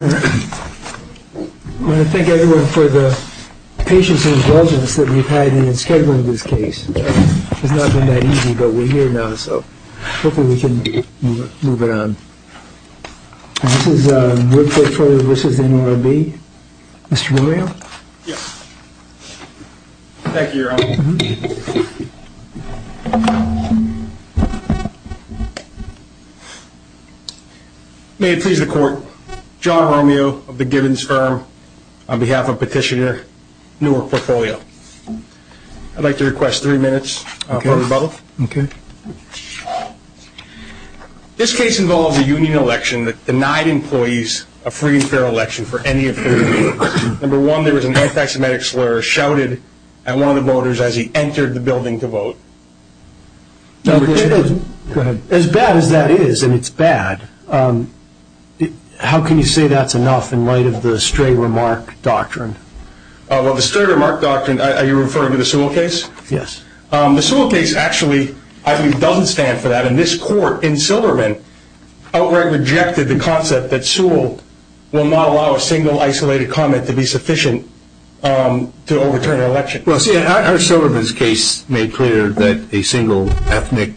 I want to thank everyone for the patience and indulgence that we've had in scheduling this case. It's not been that easy, but we're here now, so hopefully we can move it on. This is Woodford Portfolio v. NLRB. Mr. Morio? May it please the court, John Romeo of the Gibbons firm on behalf of Petitioner Newark Portfolio. I'd like to request three minutes for rebuttal. Okay. This case involves a union election that denied employees a free and fair election for any of three reasons. Number one, there was an anti-Semitic slur shouted at one of the voters as he entered the building to vote. As bad as that is, and it's bad, how can you say that's enough in light of the Stray Remark Doctrine? Well, the Stray Remark Doctrine, are you referring to the Sewell case? Yes. The Sewell case actually, I believe, doesn't stand for that. This court in Silverman outright rejected the concept that Sewell will not allow a single isolated comment to be sufficient to overturn an election. Our Silverman's case made clear that a single ethnic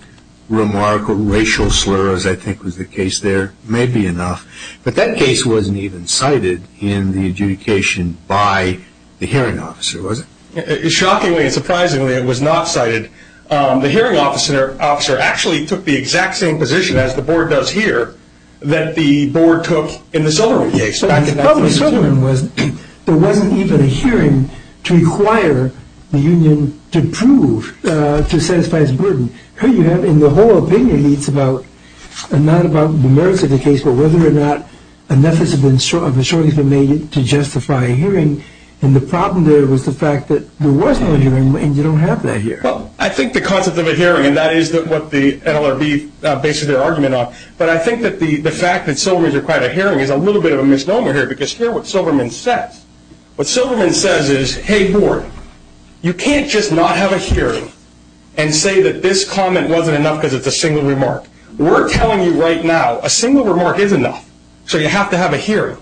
remark or racial slur, as I think was the case there, may be enough. But that case wasn't even cited in the adjudication by the hearing officer, was it? Shockingly and surprisingly, it was not cited. The hearing officer actually took the exact same position as the board does here that the board took in the Silverman case. The problem with Silverman was there wasn't even a hearing to require the union to prove, to satisfy its burden. Here you have, in the whole opinion, it's not about the merits of the case, but whether or not enough has shortly been made to justify a hearing. And the problem there was the fact that there was no hearing and you don't have that here. Well, I think the concept of a hearing, and that is what the NLRB bases their argument on, but I think that the fact that Silverman's required a hearing is a little bit of a misnomer here because here's what Silverman says. What Silverman says is, hey, board, you can't just not have a hearing and say that this comment wasn't enough because it's a single remark. We're telling you right now a single remark is enough, so you have to have a hearing.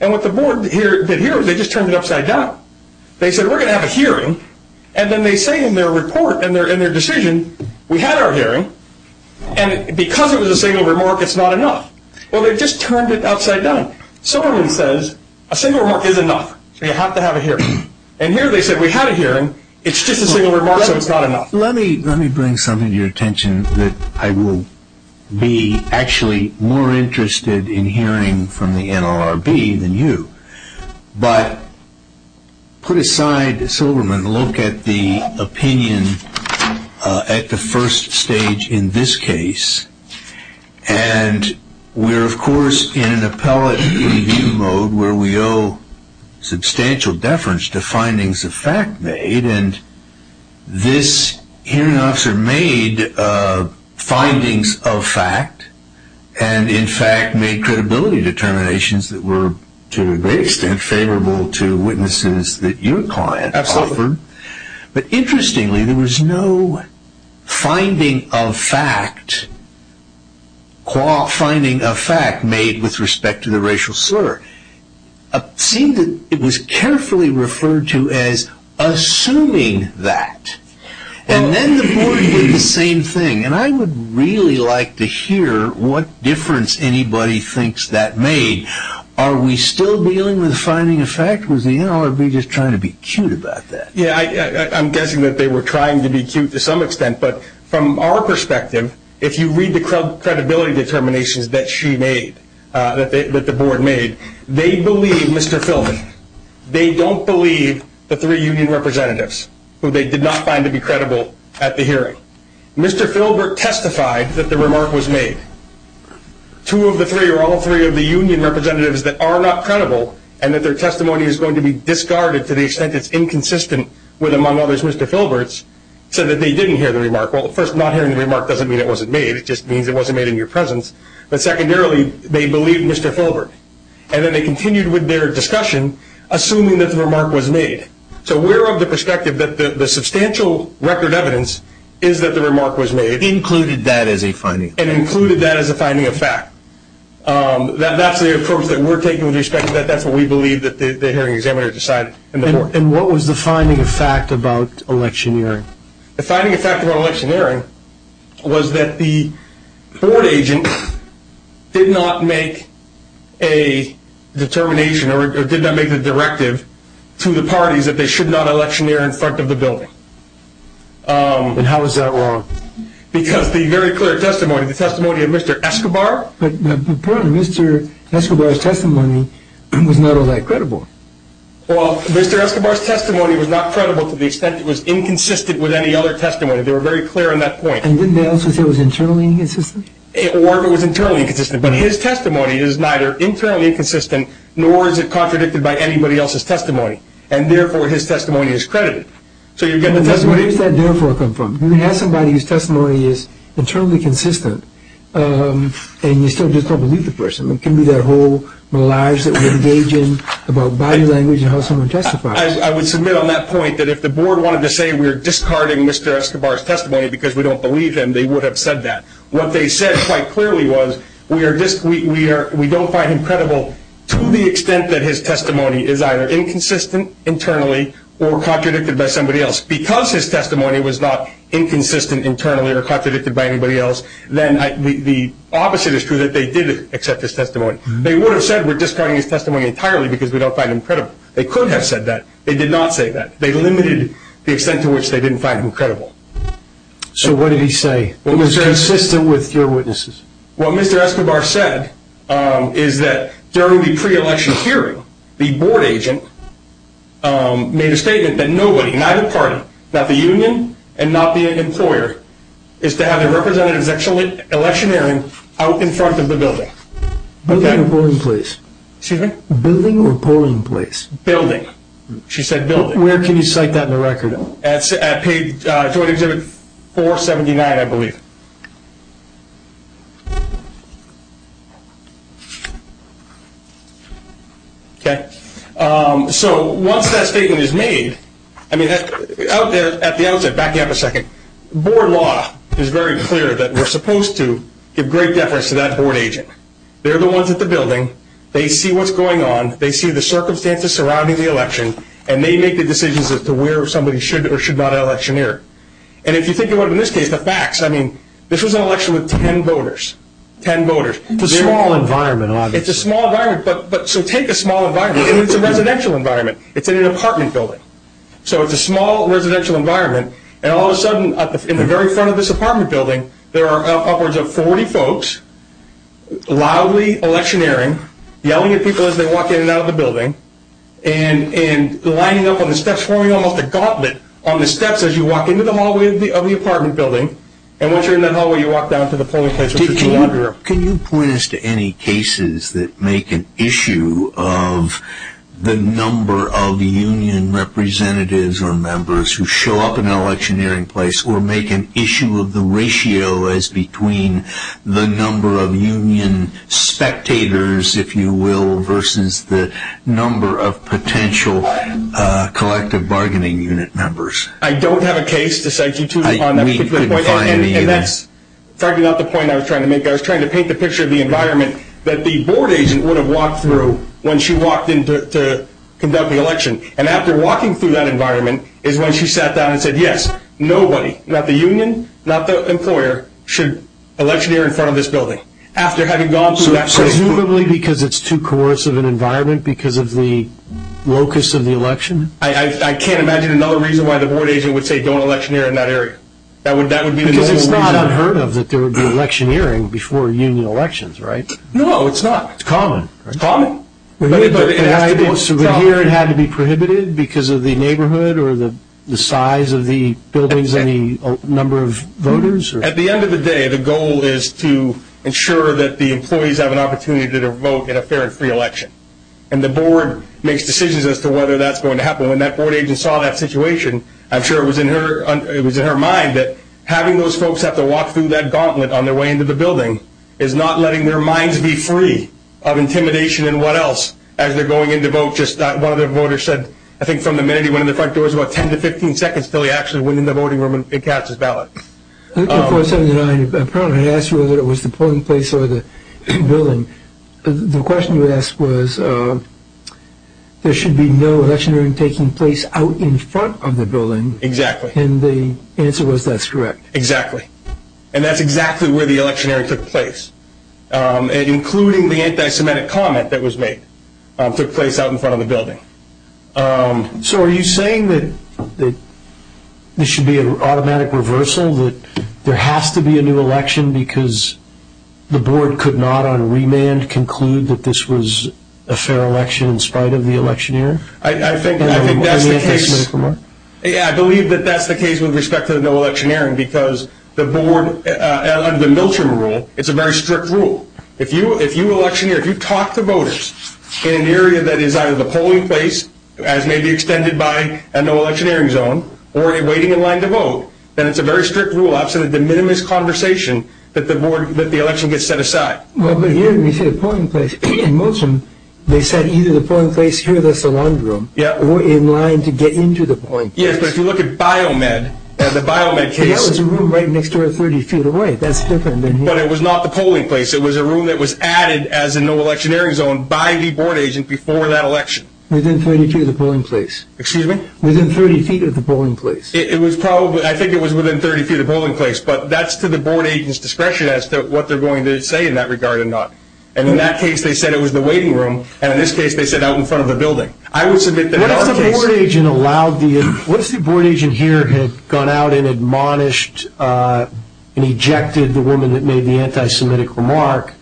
And what the board did here, they just turned it upside down. They said we're going to have a hearing, and then they say in their report, in their decision, we had our hearing, and because it was a single remark, it's not enough. Well, they just turned it outside down. Silverman says a single remark is enough, so you have to have a hearing. And here they said we had a hearing, it's just a single remark, so it's not enough. Let me bring something to your attention that I will be actually more interested in hearing from the NLRB than you. But put aside Silverman, look at the opinion at the first stage in this case. And we're, of course, in an appellate review mode where we owe substantial deference to findings of fact made, and this hearing officer made findings of fact and, in fact, made credibility determinations that were to a great extent favorable to witnesses that your client offered. Absolutely. But interestingly, there was no finding of fact made with respect to the racial slur. It seemed that it was carefully referred to as assuming that, and then the board did the same thing. And I would really like to hear what difference anybody thinks that made. Are we still dealing with finding of fact? Was the NLRB just trying to be cute about that? Yeah, I'm guessing that they were trying to be cute to some extent, but from our perspective, if you read the credibility determinations that she made, that the board made, they believe Mr. Filbert. They don't believe the three union representatives who they did not find to be credible at the hearing. Mr. Filbert testified that the remark was made. Two of the three or all three of the union representatives that are not credible and that their testimony is going to be discarded to the extent it's inconsistent with, among others, Mr. Filbert's, said that they didn't hear the remark. Well, first, not hearing the remark doesn't mean it wasn't made. It just means it wasn't made in your presence. But secondarily, they believe Mr. Filbert. And then they continued with their discussion, assuming that the remark was made. So we're of the perspective that the substantial record evidence is that the remark was made. Included that as a finding. And included that as a finding of fact. That's the approach that we're taking with respect to that. That's what we believe that the hearing examiner decided in the board. And what was the finding of fact about electioneering? The finding of fact about electioneering was that the board agent did not make a determination or did not make the directive to the parties that they should not electioneer in front of the building. And how is that wrong? Because the very clear testimony, the testimony of Mr. Escobar. But Mr. Escobar's testimony was not all that credible. Well, Mr. Escobar's testimony was not credible to the extent that it was inconsistent with any other testimony. They were very clear on that point. And didn't they also say it was internally inconsistent? Or it was internally inconsistent. But his testimony is neither internally inconsistent nor is it contradicted by anybody else's testimony. And therefore his testimony is credited. So you're getting the testimony. Where does that therefore come from? When you have somebody whose testimony is internally consistent and you still just don't believe the person. It can be their whole lives that we engage in about body language and how someone testifies. I would submit on that point that if the board wanted to say we're discarding Mr. Escobar's testimony because we don't believe him, they would have said that. What they said quite clearly was we don't find him credible to the extent that his testimony is either inconsistent internally or contradicted by somebody else. Because his testimony was not inconsistent internally or contradicted by anybody else, the opposite is true that they did accept his testimony. They would have said we're discarding his testimony entirely because we don't find him credible. They could have said that. They did not say that. They limited the extent to which they didn't find him credible. So what did he say? What was consistent with your witnesses? What Mr. Escobar said is that during the pre-election hearing, the board agent made a statement that nobody, neither party, not the union and not the employer, is to have their representatives actually electioneering out in front of the building. Building or polling place? Excuse me? Building or polling place? Building. She said building. Where can you cite that in the record? At joint exhibit 479, I believe. So once that statement is made, at the outset, backing up a second, board law is very clear that we're supposed to give great deference to that board agent. They're the ones at the building. They see what's going on. They see the circumstances surrounding the election, and they make the decisions as to where somebody should or should not electioneer. And if you think about it in this case, the facts, I mean, this was an election with ten voters. Ten voters. It's a small environment, obviously. It's a small environment, but so take a small environment. It's a residential environment. It's in an apartment building. So it's a small residential environment, and all of a sudden in the very front of this apartment building, there are upwards of 40 folks loudly electioneering, yelling at people as they walk in and out of the building, and lining up on the steps forming almost a gauntlet on the steps as you walk into the hallway of the apartment building. And once you're in that hallway, you walk down to the polling place. Can you point us to any cases that make an issue of the number of union representatives or members who show up in an electioneering place or make an issue of the ratio as between the number of union spectators, if you will, versus the number of potential collective bargaining unit members? I don't have a case to cite you to on that particular point. And that's frankly not the point I was trying to make. I was trying to paint the picture of the environment that the board agent would have walked through when she walked in to conduct the election. And after walking through that environment is when she sat down and said, yes, nobody, not the union, not the employer, should electioneer in front of this building. So presumably because it's too coercive an environment because of the locus of the election? I can't imagine another reason why the board agent would say don't electioneer in that area. Because it's not unheard of that there would be electioneering before union elections, right? No, it's not. It's common. It's common. So here it had to be prohibited because of the neighborhood or the size of the buildings and the number of voters? At the end of the day, the goal is to ensure that the employees have an opportunity to vote in a fair and free election. And the board makes decisions as to whether that's going to happen. When that board agent saw that situation, I'm sure it was in her mind that having those folks have to walk through that gauntlet on their way into the building is not letting their minds be free of intimidation and what else as they're going in to vote. One of the voters said, I think from the minute he went in the front door, it was about 10 to 15 seconds until he actually went in the voting room and cast his ballot. I asked you whether it was the polling place or the building. The question you asked was there should be no electioneering taking place out in front of the building. Exactly. And the answer was that's correct. Exactly. And that's exactly where the electioneering took place, including the anti-Semitic comment that was made took place out in front of the building. So are you saying that this should be an automatic reversal, that there has to be a new election because the board could not on remand conclude that this was a fair election in spite of the electioneering? I think that's the case. I think that's the case with respect to the no electioneering because the board, under the Miltrum rule, it's a very strict rule. If you electioneer, if you talk to voters in an area that is either the polling place, as may be extended by a no electioneering zone, or a waiting in line to vote, then it's a very strict rule outside of the minimus conversation that the election gets set aside. Well, but here we say the polling place. In Miltrum, they said either the polling place here, the saloon room, or in line to get into the polling place. Yes, but if you look at Biomed, the Biomed case. That was a room right next door 30 feet away. That's different than here. But it was not the polling place. It was a room that was added as a no electioneering zone by the board agent before that election. Within 30 feet of the polling place. Excuse me? Within 30 feet of the polling place. It was probably, I think it was within 30 feet of the polling place, but that's to the board agent's discretion as to what they're going to say in that regard or not. And in that case, they said it was the waiting room. And in this case, they said out in front of the building. What if the board agent allowed the, what if the board agent here had gone out and admonished and ejected the woman that made the anti-Semitic remark,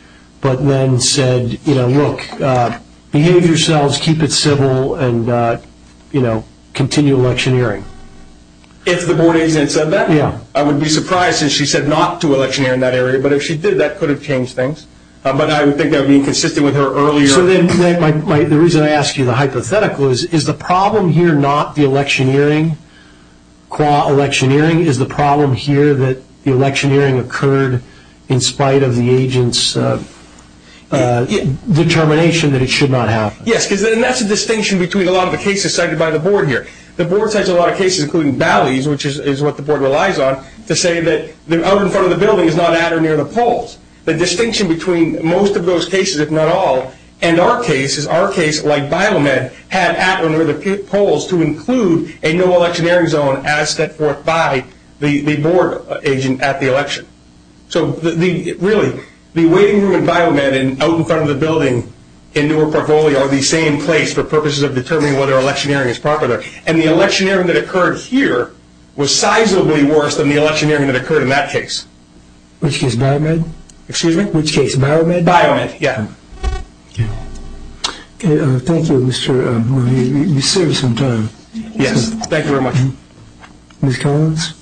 but then said, you know, look, behave yourselves, keep it civil, and, you know, continue electioneering? If the board agent said that? Yeah. I would be surprised if she said not to electioneer in that area. But if she did, that could have changed things. But I would think that would be consistent with her earlier. So then the reason I ask you the hypothetical is, is the problem here not the electioneering, qua electioneering, is the problem here that the electioneering occurred in spite of the agent's determination that it should not happen? Yes, because then that's a distinction between a lot of the cases cited by the board here. The board cites a lot of cases, including Bally's, which is what the board relies on, to say that out in front of the building is not at or near the polls. The distinction between most of those cases, if not all, and our cases, our case like Biomed, had at or near the polls to include a no electioneering zone as set forth by the board agent at the election. So really, the waiting room in Biomed and out in front of the building in Newark, Parvoli are the same place for purposes of determining whether electioneering is proper there. And the electioneering that occurred here was sizably worse than the electioneering that occurred in that case. Which case, Biomed? Excuse me? Which case, Biomed? Biomed, yeah. Thank you, Mr. Murray. You served some time. Yes, thank you very much. Ms. Collins?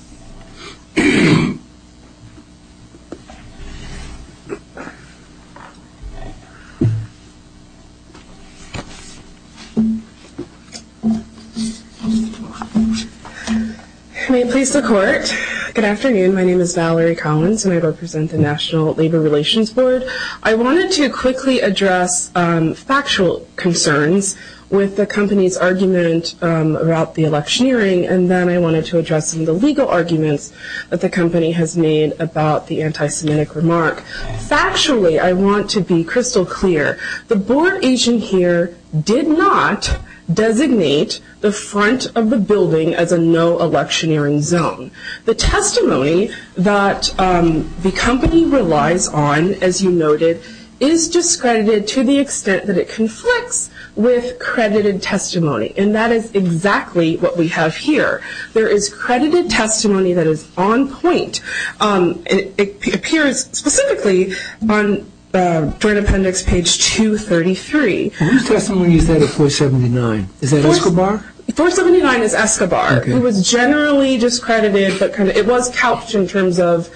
May it please the court. Good afternoon. My name is Valerie Collins, and I represent the National Labor Relations Board. I wanted to quickly address factual concerns with the company's argument about the electioneering, and then I wanted to address some of the legal concerns. that the company has made about the anti-Semitic remark. Factually, I want to be crystal clear. The board agent here did not designate the front of the building as a no electioneering zone. The testimony that the company relies on, as you noted, is discredited to the extent that it conflicts with credited testimony. And that is exactly what we have here. There is credited testimony that is on point. It appears specifically on Joint Appendix page 233. Whose testimony is that at 479? Is that Escobar? 479 is Escobar. It was generally discredited, but it was couched in terms of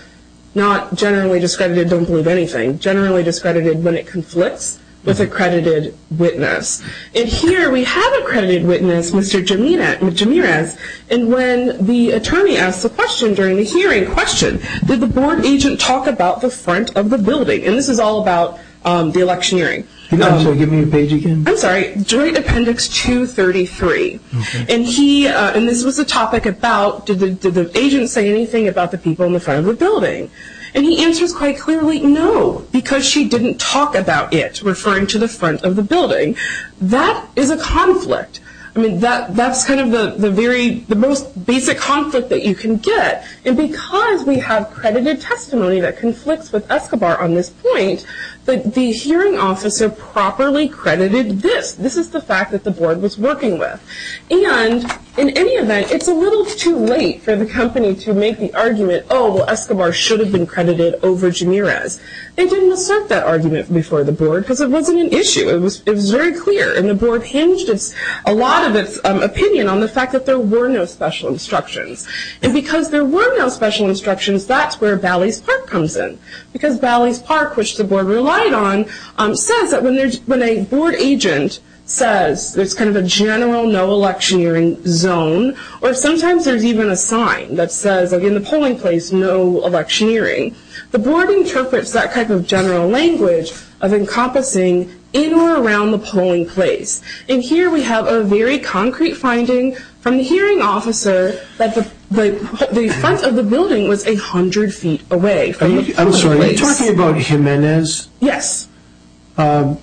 not generally discredited, don't believe anything, generally discredited when it conflicts with accredited witness. And here we have accredited witness, Mr. Jimenez, and when the attorney asked the question during the hearing, question, did the board agent talk about the front of the building? And this is all about the electioneering. Can you give me the page again? I'm sorry, Joint Appendix 233. And this was a topic about did the agent say anything about the people in the front of the building? And he answers quite clearly, no, because she didn't talk about it, That is a conflict. I mean, that's kind of the very, the most basic conflict that you can get. And because we have credited testimony that conflicts with Escobar on this point, the hearing officer properly credited this. This is the fact that the board was working with. And in any event, it's a little too late for the company to make the argument, oh, well, Escobar should have been credited over Jimenez. They didn't assert that argument before the board because it wasn't an issue. It was very clear. And the board hinged a lot of its opinion on the fact that there were no special instructions. And because there were no special instructions, that's where Bally's Park comes in. Because Bally's Park, which the board relied on, says that when a board agent says there's kind of a general no electioneering zone, or sometimes there's even a sign that says in the polling place no electioneering, the board interprets that kind of general language of encompassing in or around the polling place. And here we have a very concrete finding from the hearing officer that the front of the building was 100 feet away. I'm sorry, are you talking about Jimenez? Yes. I'm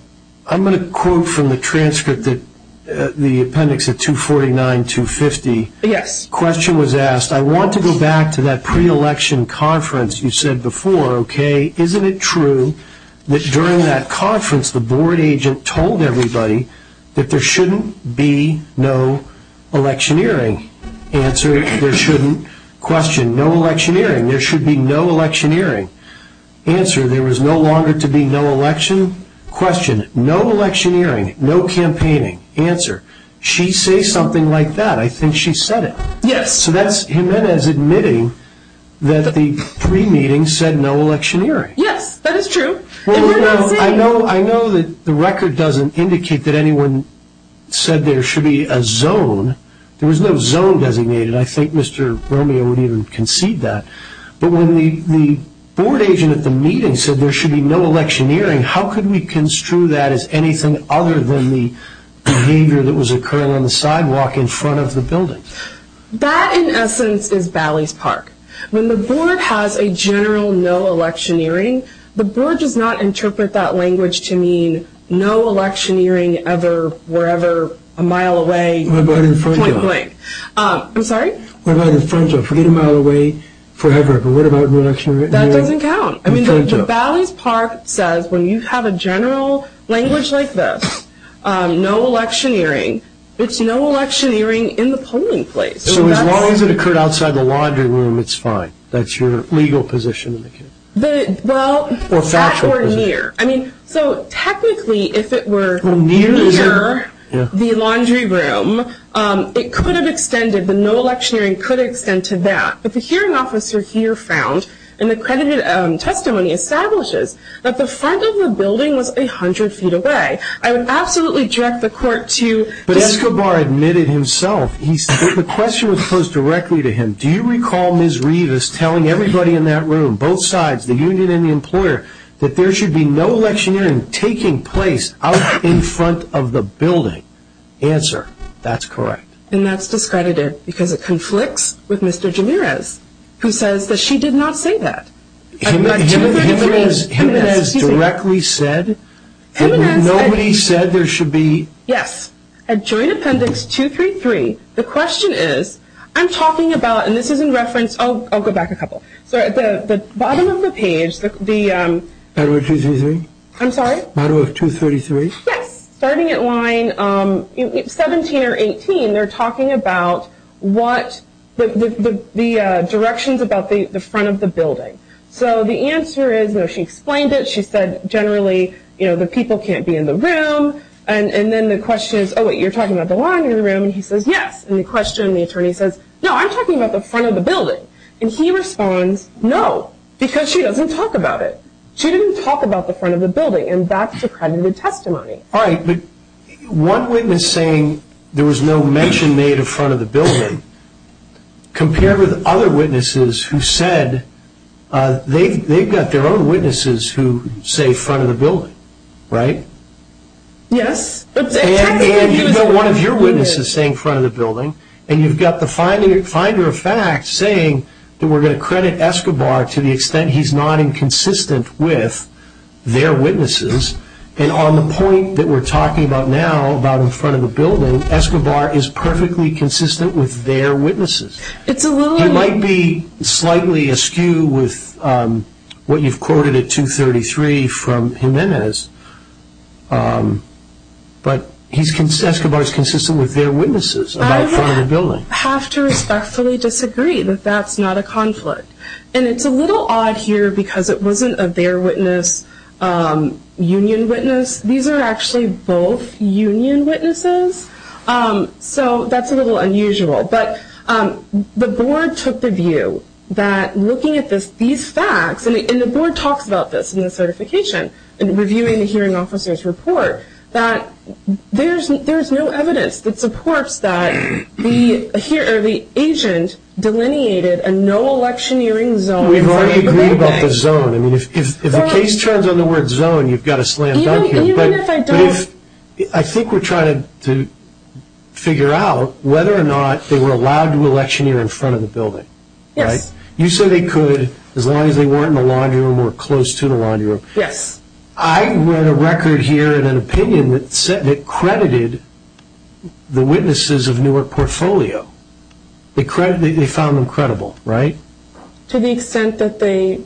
going to quote from the transcript, the appendix at 249, 250. Yes. The question was asked, I want to go back to that pre-election conference. You said before, okay, isn't it true that during that conference the board agent told everybody that there shouldn't be no electioneering. Answer, there shouldn't. Question, no electioneering. There should be no electioneering. Answer, there was no longer to be no election. Question, no electioneering. No campaigning. Answer, she says something like that. I think she said it. Yes. So that's Jimenez admitting that the pre-meeting said no electioneering. Yes, that is true. I know that the record doesn't indicate that anyone said there should be a zone. There was no zone designated. I think Mr. Romeo would even concede that. But when the board agent at the meeting said there should be no electioneering, how could we construe that as anything other than the behavior that was occurring on the sidewalk in front of the building? That, in essence, is Bally's Park. When the board has a general no electioneering, the board does not interpret that language to mean no electioneering ever, wherever, a mile away, point blank. What about in front of? I'm sorry? What about in front of? Forget a mile away forever, but what about no electioneering? That doesn't count. I mean, the Bally's Park says when you have a general language like this, no electioneering, it's no electioneering in the polling place. So as long as it occurred outside the laundry room, it's fine? That's your legal position? Well, that or near. So technically, if it were near the laundry room, it could have extended. The no electioneering could extend to that. But the hearing officer here found in the credited testimony establishes that the front of the building was 100 feet away. I would absolutely direct the court to... But Escobar admitted himself. The question was posed directly to him. Do you recall Ms. Rivas telling everybody in that room, both sides, the union and the employer, that there should be no electioneering taking place out in front of the building? Answer, that's correct. And that's discredited because it conflicts with Mr. Jimenez, who says that she did not say that. Jimenez directly said that nobody said there should be... Yes. At joint appendix 233, the question is, I'm talking about, and this is in reference... I'll go back a couple. So at the bottom of the page, the... Bottom of 233? I'm sorry? Bottom of 233? Yes. Starting at line 17 or 18, they're talking about what the directions about the front of the building. So the answer is, no, she explained it. She said generally, you know, the people can't be in the room. And then the question is, oh, wait, you're talking about the line in the room. And he says, yes. And the question, the attorney says, no, I'm talking about the front of the building. And he responds, no, because she doesn't talk about it. She didn't talk about the front of the building, and that's discredited testimony. All right, but one witness saying there was no mention made of front of the building compared with other witnesses who said they've got their own witnesses who say front of the building, right? Yes. And you've got one of your witnesses saying front of the building, and you've got the finder of fact saying that we're going to credit Escobar to the extent he's not inconsistent with their witnesses. And on the point that we're talking about now about in front of the building, Escobar is perfectly consistent with their witnesses. He might be slightly askew with what you've quoted at 233 from Jimenez, but Escobar is consistent with their witnesses about front of the building. I have to respectfully disagree that that's not a conflict. And it's a little odd here because it wasn't a their witness, union witness. These are actually both union witnesses. So that's a little unusual. But the board took the view that looking at these facts, and the board talks about this in the certification in reviewing the hearing officer's report, that there's no evidence that supports that the agent delineated a no electioneering zone. We've already agreed about the zone. If the case turns on the word zone, you've got to slam dunk him. Even if I don't. I think we're trying to figure out whether or not they were allowed to electioneer in front of the building. Yes. You say they could as long as they weren't in the laundry room or close to the laundry room. Yes. I read a record here in an opinion that credited the witnesses of Newark Portfolio. They found them credible, right? To the extent that the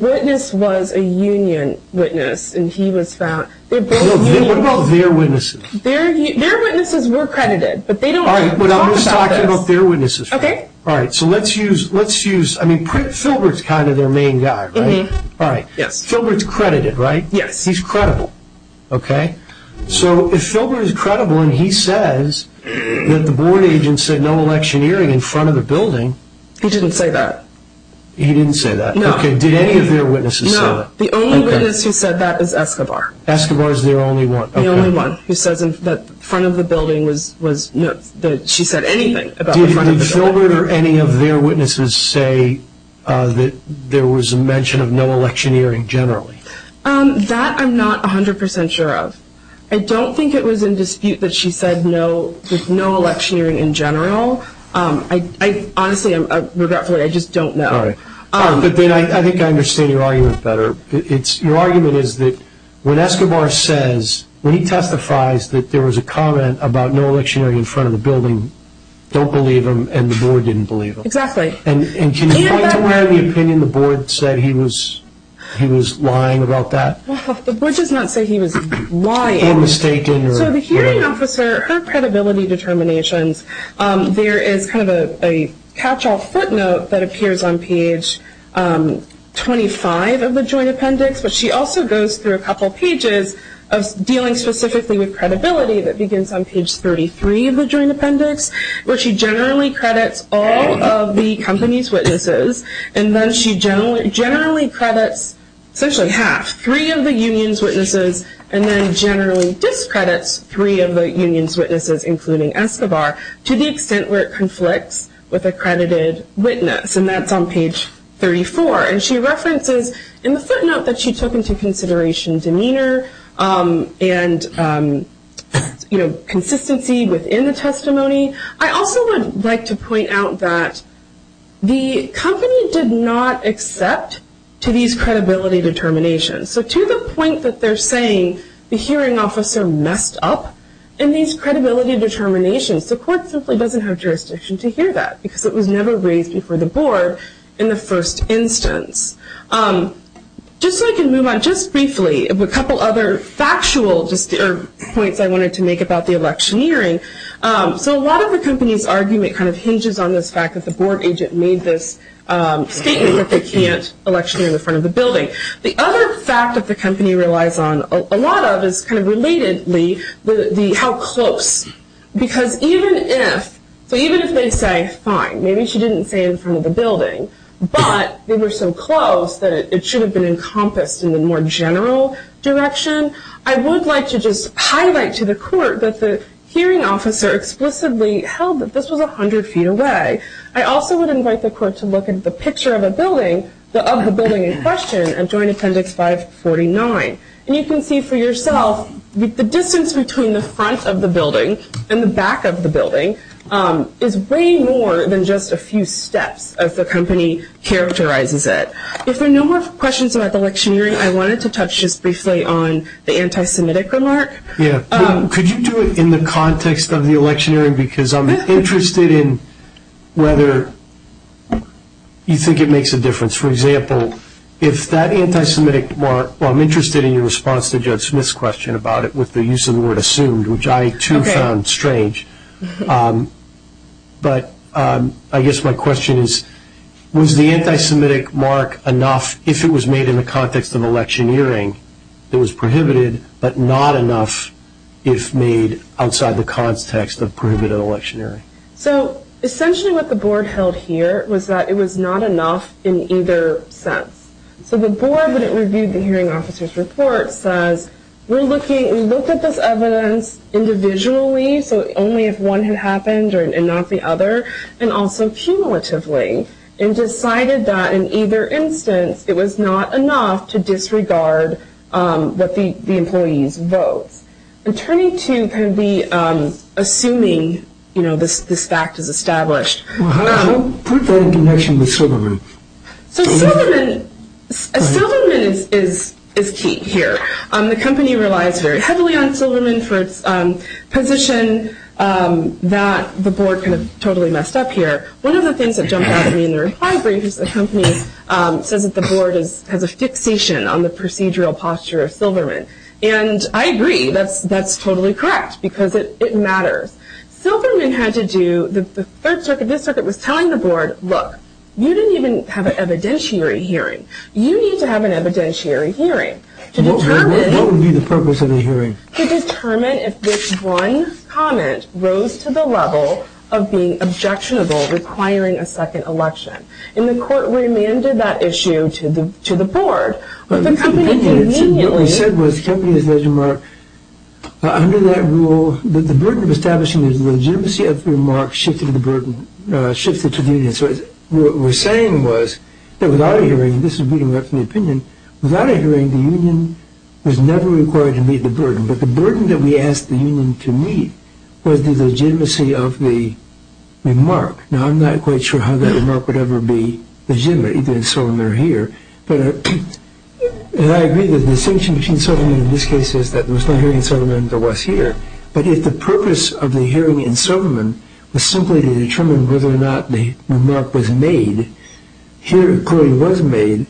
witness was a union witness and he was found. What about their witnesses? Their witnesses were credited, but they don't talk about this. I'm just talking about their witnesses. Okay. All right. So let's use, I mean, Philbert's kind of their main guy, right? All right. Yes. Philbert's credited, right? Yes. He's credible. Okay. So if Philbert is credible and he says that the board agent said no electioneering in front of the building. He didn't say that. He didn't say that. No. Okay. Did any of their witnesses say that? No. The only witness who said that is Escobar. Escobar is their only one. The only one who says that front of the building was, that she said anything about the front of the building. Did Philbert or any of their witnesses say that there was a mention of no electioneering generally? That I'm not 100% sure of. I don't think it was in dispute that she said no electioneering in general. Honestly, regretfully, I just don't know. All right. But then I think I understand your argument better. Your argument is that when Escobar says, when he testifies that there was a comment about no electioneering in front of the building, you don't believe him and the board didn't believe him. Exactly. And can you point to where in the opinion the board said he was lying about that? The board does not say he was lying. Or mistaken. So the hearing officer, her credibility determinations, there is kind of a catch-all footnote that appears on page 25 of the joint appendix, but she also goes through a couple pages of dealing specifically with credibility that begins on page 33 of the joint appendix, where she generally credits all of the company's witnesses, and then she generally credits essentially half, three of the union's witnesses, and then generally discredits three of the union's witnesses, including Escobar, to the extent where it conflicts with a credited witness. And that's on page 34. And she references in the footnote that she took into consideration demeanor and consistency within the testimony. I also would like to point out that the company did not accept to these credibility determinations. So to the point that they're saying the hearing officer messed up in these credibility determinations, the court simply doesn't have jurisdiction to hear that, because it was never raised before the board in the first instance. Just so I can move on just briefly, a couple other factual points I wanted to make about the electioneering. So a lot of the company's argument kind of hinges on this fact that the board agent made this statement that they can't electioneer in the front of the building. The other fact that the company relies on a lot of is kind of relatedly how close. Because even if they say, fine, maybe she didn't say in front of the building, but they were so close that it should have been encompassed in the more general direction, I would like to just highlight to the court that the hearing officer explicitly held that this was 100 feet away. I also would invite the court to look at the picture of the building in question in Joint Appendix 549. And you can see for yourself the distance between the front of the building and the back of the building is way more than just a few steps as the company characterizes it. If there are no more questions about the electioneering, I wanted to touch just briefly on the anti-Semitic remark. Yeah. Could you do it in the context of the electioneering? Because I'm interested in whether you think it makes a difference. For example, if that anti-Semitic remark, well I'm interested in your response to Judge Smith's question about it with the use of the word assumed, which I too found strange. But I guess my question is, was the anti-Semitic mark enough if it was made in the context of electioneering that was prohibited, but not enough if made outside the context of prohibited electioneering? So essentially what the board held here was that it was not enough in either sense. So the board when it reviewed the hearing officer's report says, we looked at this evidence individually, so only if one had happened and not the other, and also cumulatively and decided that in either instance it was not enough to disregard what the employees' votes. I'm turning to kind of the assuming this fact is established. How do you put that in connection with Silverman? So Silverman is key here. The company relies very heavily on Silverman for its position that the board kind of totally messed up here. One of the things that jumped out at me in the reply brief is the company says that the board has a fixation on the procedural posture of Silverman. And I agree, that's totally correct, because it matters. Silverman had to do, the third circuit, this circuit was telling the board, look, you didn't even have an evidentiary hearing. You need to have an evidentiary hearing. What would be the purpose of a hearing? To determine if this one comment rose to the level of being objectionable requiring a second election. And the court remanded that issue to the board. What we said was the company has led the remark. Under that rule, the burden of establishing the legitimacy of the remark shifted to the union. So what we're saying was that without a hearing, this is booting right from the opinion, without a hearing the union was never required to meet the burden. But the burden that we asked the union to meet was the legitimacy of the remark. Now I'm not quite sure how that remark would ever be legitimate, either in Silverman or here. But I agree that the distinction between Silverman in this case is that there was no hearing in Silverman than there was here. But if the purpose of the hearing in Silverman was simply to determine whether or not the remark was made, here it clearly was made,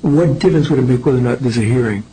what difference would it make whether or not there's a hearing?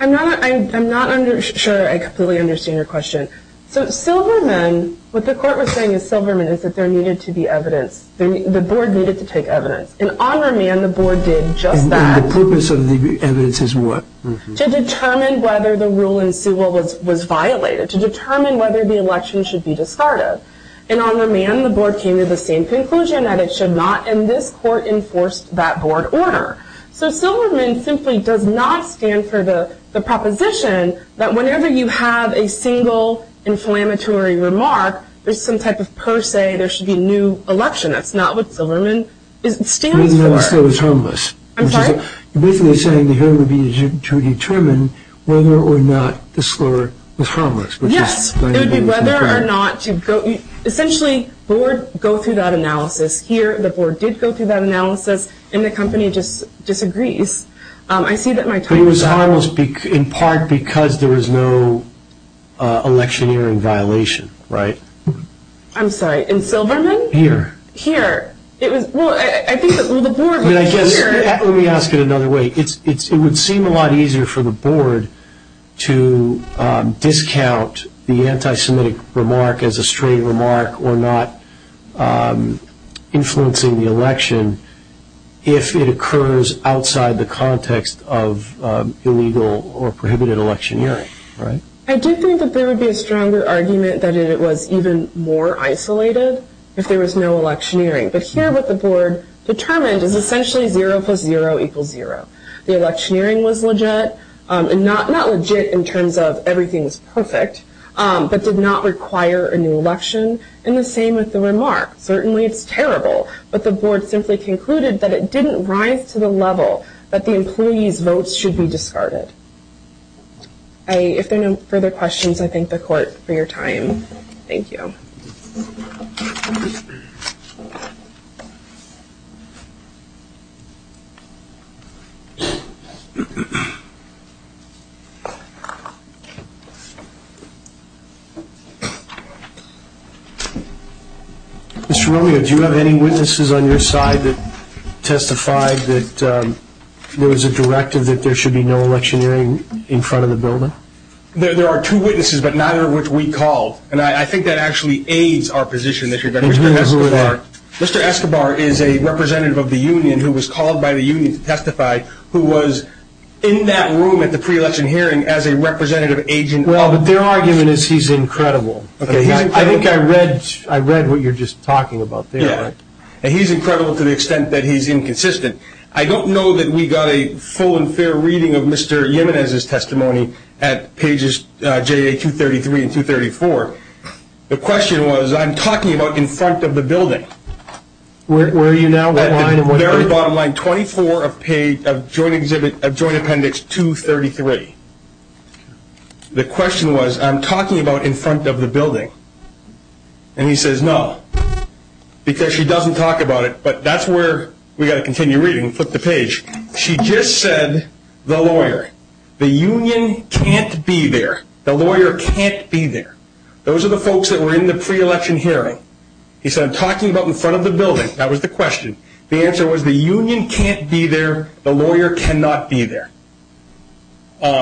I'm not sure I completely understand your question. So Silverman, what the court was saying in Silverman is that there needed to be evidence. The board needed to take evidence. And on remand, the board did just that. And the purpose of the evidence is what? To determine whether the rule in Sewell was violated, to determine whether the election should be discarded. And on remand, the board came to the same conclusion that it should not. And this court enforced that board order. So Silverman simply does not stand for the proposition that whenever you have a single inflammatory remark, there's some type of per se there should be a new election. That's not what Silverman stands for. It was harmless. I'm sorry? You're basically saying the hearing would be to determine whether or not the score was harmless. Yes, it would be whether or not. Essentially, the board would go through that analysis. Here, the board did go through that analysis, and the company just disagrees. I see that my time is up. But it was harmless in part because there was no electioneering violation, right? I'm sorry, in Silverman? Here. Here. Well, I think the board was here. Let me ask it another way. It would seem a lot easier for the board to discount the anti-Semitic remark as a straight remark or not influencing the election if it occurs outside the context of illegal or prohibited electioneering, right? I do think that there would be a stronger argument that it was even more isolated if there was no electioneering. But here what the board determined is essentially zero plus zero equals zero. The electioneering was legit, not legit in terms of everything's perfect, but did not require a new election, and the same with the remark. Certainly it's terrible, but the board simply concluded that it didn't rise to the level that the employee's votes should be discarded. If there are no further questions, I thank the court for your time. Thank you. Mr. Romero, do you have any witnesses on your side that testified that there was a directive that there should be no electioneering in front of the building? There are two witnesses, but neither of which we called, and I think that actually aids our position. Mr. Escobar. Mr. Escobar is a representative of the union who was called by the union to testify who was in that room at the pre-election hearing as a representative agent. Well, but their argument is he's incredible. I think I read what you're just talking about there. He's incredible to the extent that he's inconsistent. I don't know that we got a full and fair reading of Mr. Jimenez's testimony at pages JA-233 and 234. The question was, I'm talking about in front of the building. Where are you now? At the very bottom line, 24 of joint appendix 233. The question was, I'm talking about in front of the building. And he says, no, because she doesn't talk about it. But that's where we've got to continue reading. Flip the page. She just said, the lawyer. The union can't be there. The lawyer can't be there. Those are the folks that were in the pre-election hearing. He said, I'm talking about in front of the building. That was the question. The answer was, the union can't be there. The lawyer cannot be there.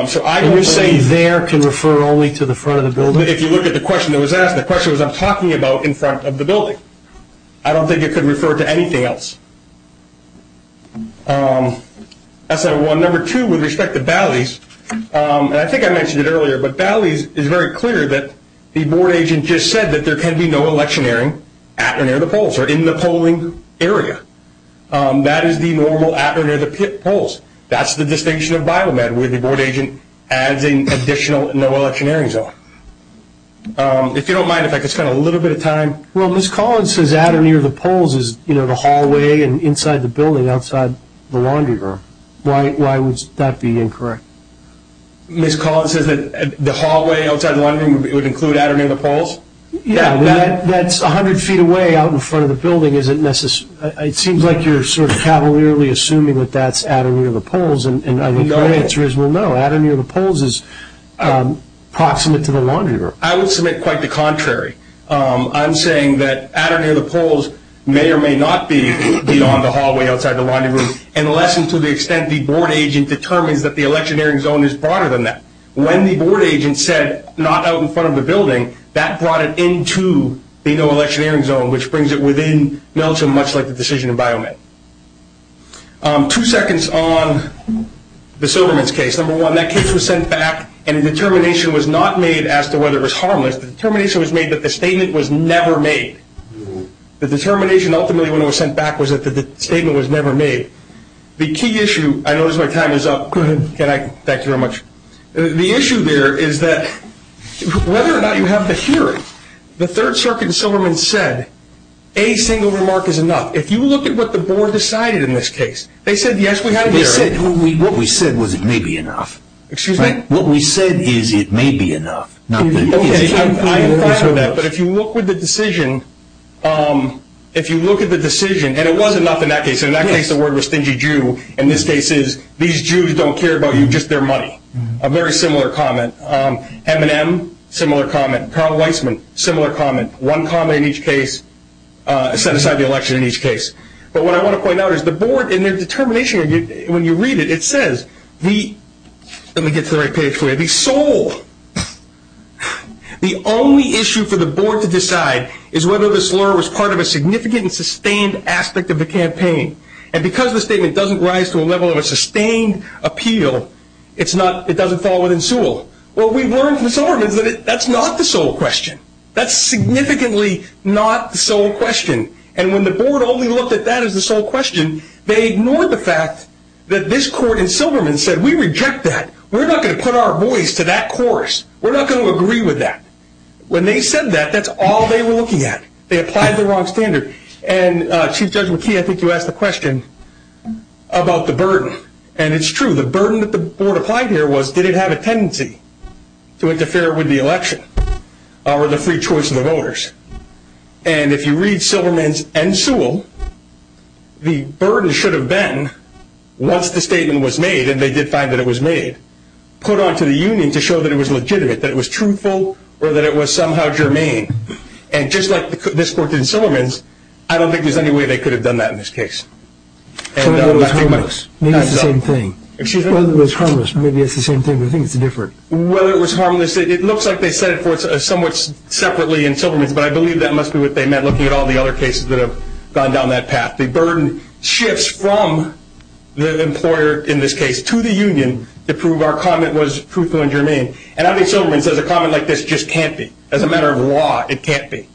So I would say there can refer only to the front of the building. If you look at the question that was asked, the question was, I'm talking about in front of the building. I don't think it could refer to anything else. That's number one. Number two, with respect to Bally's, and I think I mentioned it earlier, but Bally's is very clear that the board agent just said that there can be no election hearing at or near the polls or in the polling area. That is the normal at or near the polls. That's the distinction of Biomed, where the board agent adds an additional no election hearing zone. If you don't mind, if I could spend a little bit of time. Well, Ms. Collins says at or near the polls is, you know, the hallway and inside the building outside the laundry room. Why would that be incorrect? Ms. Collins says that the hallway outside the laundry room would include at or near the polls? It seems like you're sort of cavalierly assuming that that's at or near the polls, and I think the answer is no, at or near the polls is proximate to the laundry room. I would submit quite the contrary. I'm saying that at or near the polls may or may not be on the hallway outside the laundry room, unless and to the extent the board agent determines that the election hearing zone is broader than that. When the board agent said not out in front of the building, that brought it into the no election hearing zone, which brings it within Meltzer much like the decision in Biomed. Two seconds on the Silverman's case. Number one, that case was sent back, and the determination was not made as to whether it was harmless. The determination was made that the statement was never made. The determination ultimately when it was sent back was that the statement was never made. The key issue, I notice my time is up. Thank you very much. The issue there is that whether or not you have the hearing, the Third Circuit in Silverman said a single remark is enough. If you look at what the board decided in this case, they said yes, we have the hearing. What we said was it may be enough. Excuse me? What we said is it may be enough. Okay, I'm fine with that, but if you look with the decision, if you look at the decision, and it was enough in that case, in that case the word was stingy Jew. In this case it's these Jews don't care about you, just their money. A very similar comment. M&M, similar comment. Carl Weisman, similar comment. One comment in each case, set aside the election in each case. But what I want to point out is the board in their determination, when you read it, it says the, let me get to the right page for you, the sole, the only issue for the board to decide is whether this lawyer was part of a significant sustained aspect of the campaign. And because the statement doesn't rise to a level of a sustained appeal, it's not, it doesn't fall within Sewell. What we've learned from Silverman is that that's not the sole question. That's significantly not the sole question. And when the board only looked at that as the sole question, they ignored the fact that this court in Silverman said we reject that. We're not going to put our voice to that chorus. We're not going to agree with that. When they said that, that's all they were looking at. They applied the wrong standard. And Chief Judge McKee, I think you asked the question about the burden. And it's true. The burden that the board applied here was did it have a tendency to interfere with the election or the free choice of the voters? And if you read Silverman's and Sewell, the burden should have been once the statement was made, and they did find that it was made, put onto the union to show that it was legitimate, that it was truthful or that it was somehow germane. And just like this court did in Silverman's, I don't think there's any way they could have done that in this case. Whether it was harmless. Maybe it's the same thing. Excuse me? Whether it was harmless. Maybe it's the same thing, but I think it's different. Whether it was harmless, it looks like they set it forth somewhat separately in Silverman's, but I believe that must be what they meant looking at all the other cases that have gone down that path. The burden shifts from the employer in this case to the union to prove our comment was truthful and germane. And I think Silverman says a comment like this just can't be. As a matter of law, it can't be.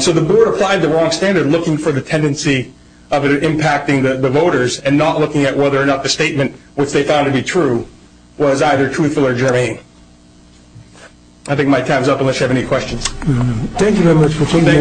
So the board applied the wrong standard looking for the tendency of it impacting the voters and not looking at whether or not the statement which they found to be true was either truthful or germane. I think my time is up unless you have any questions. Thank you very much for coming in.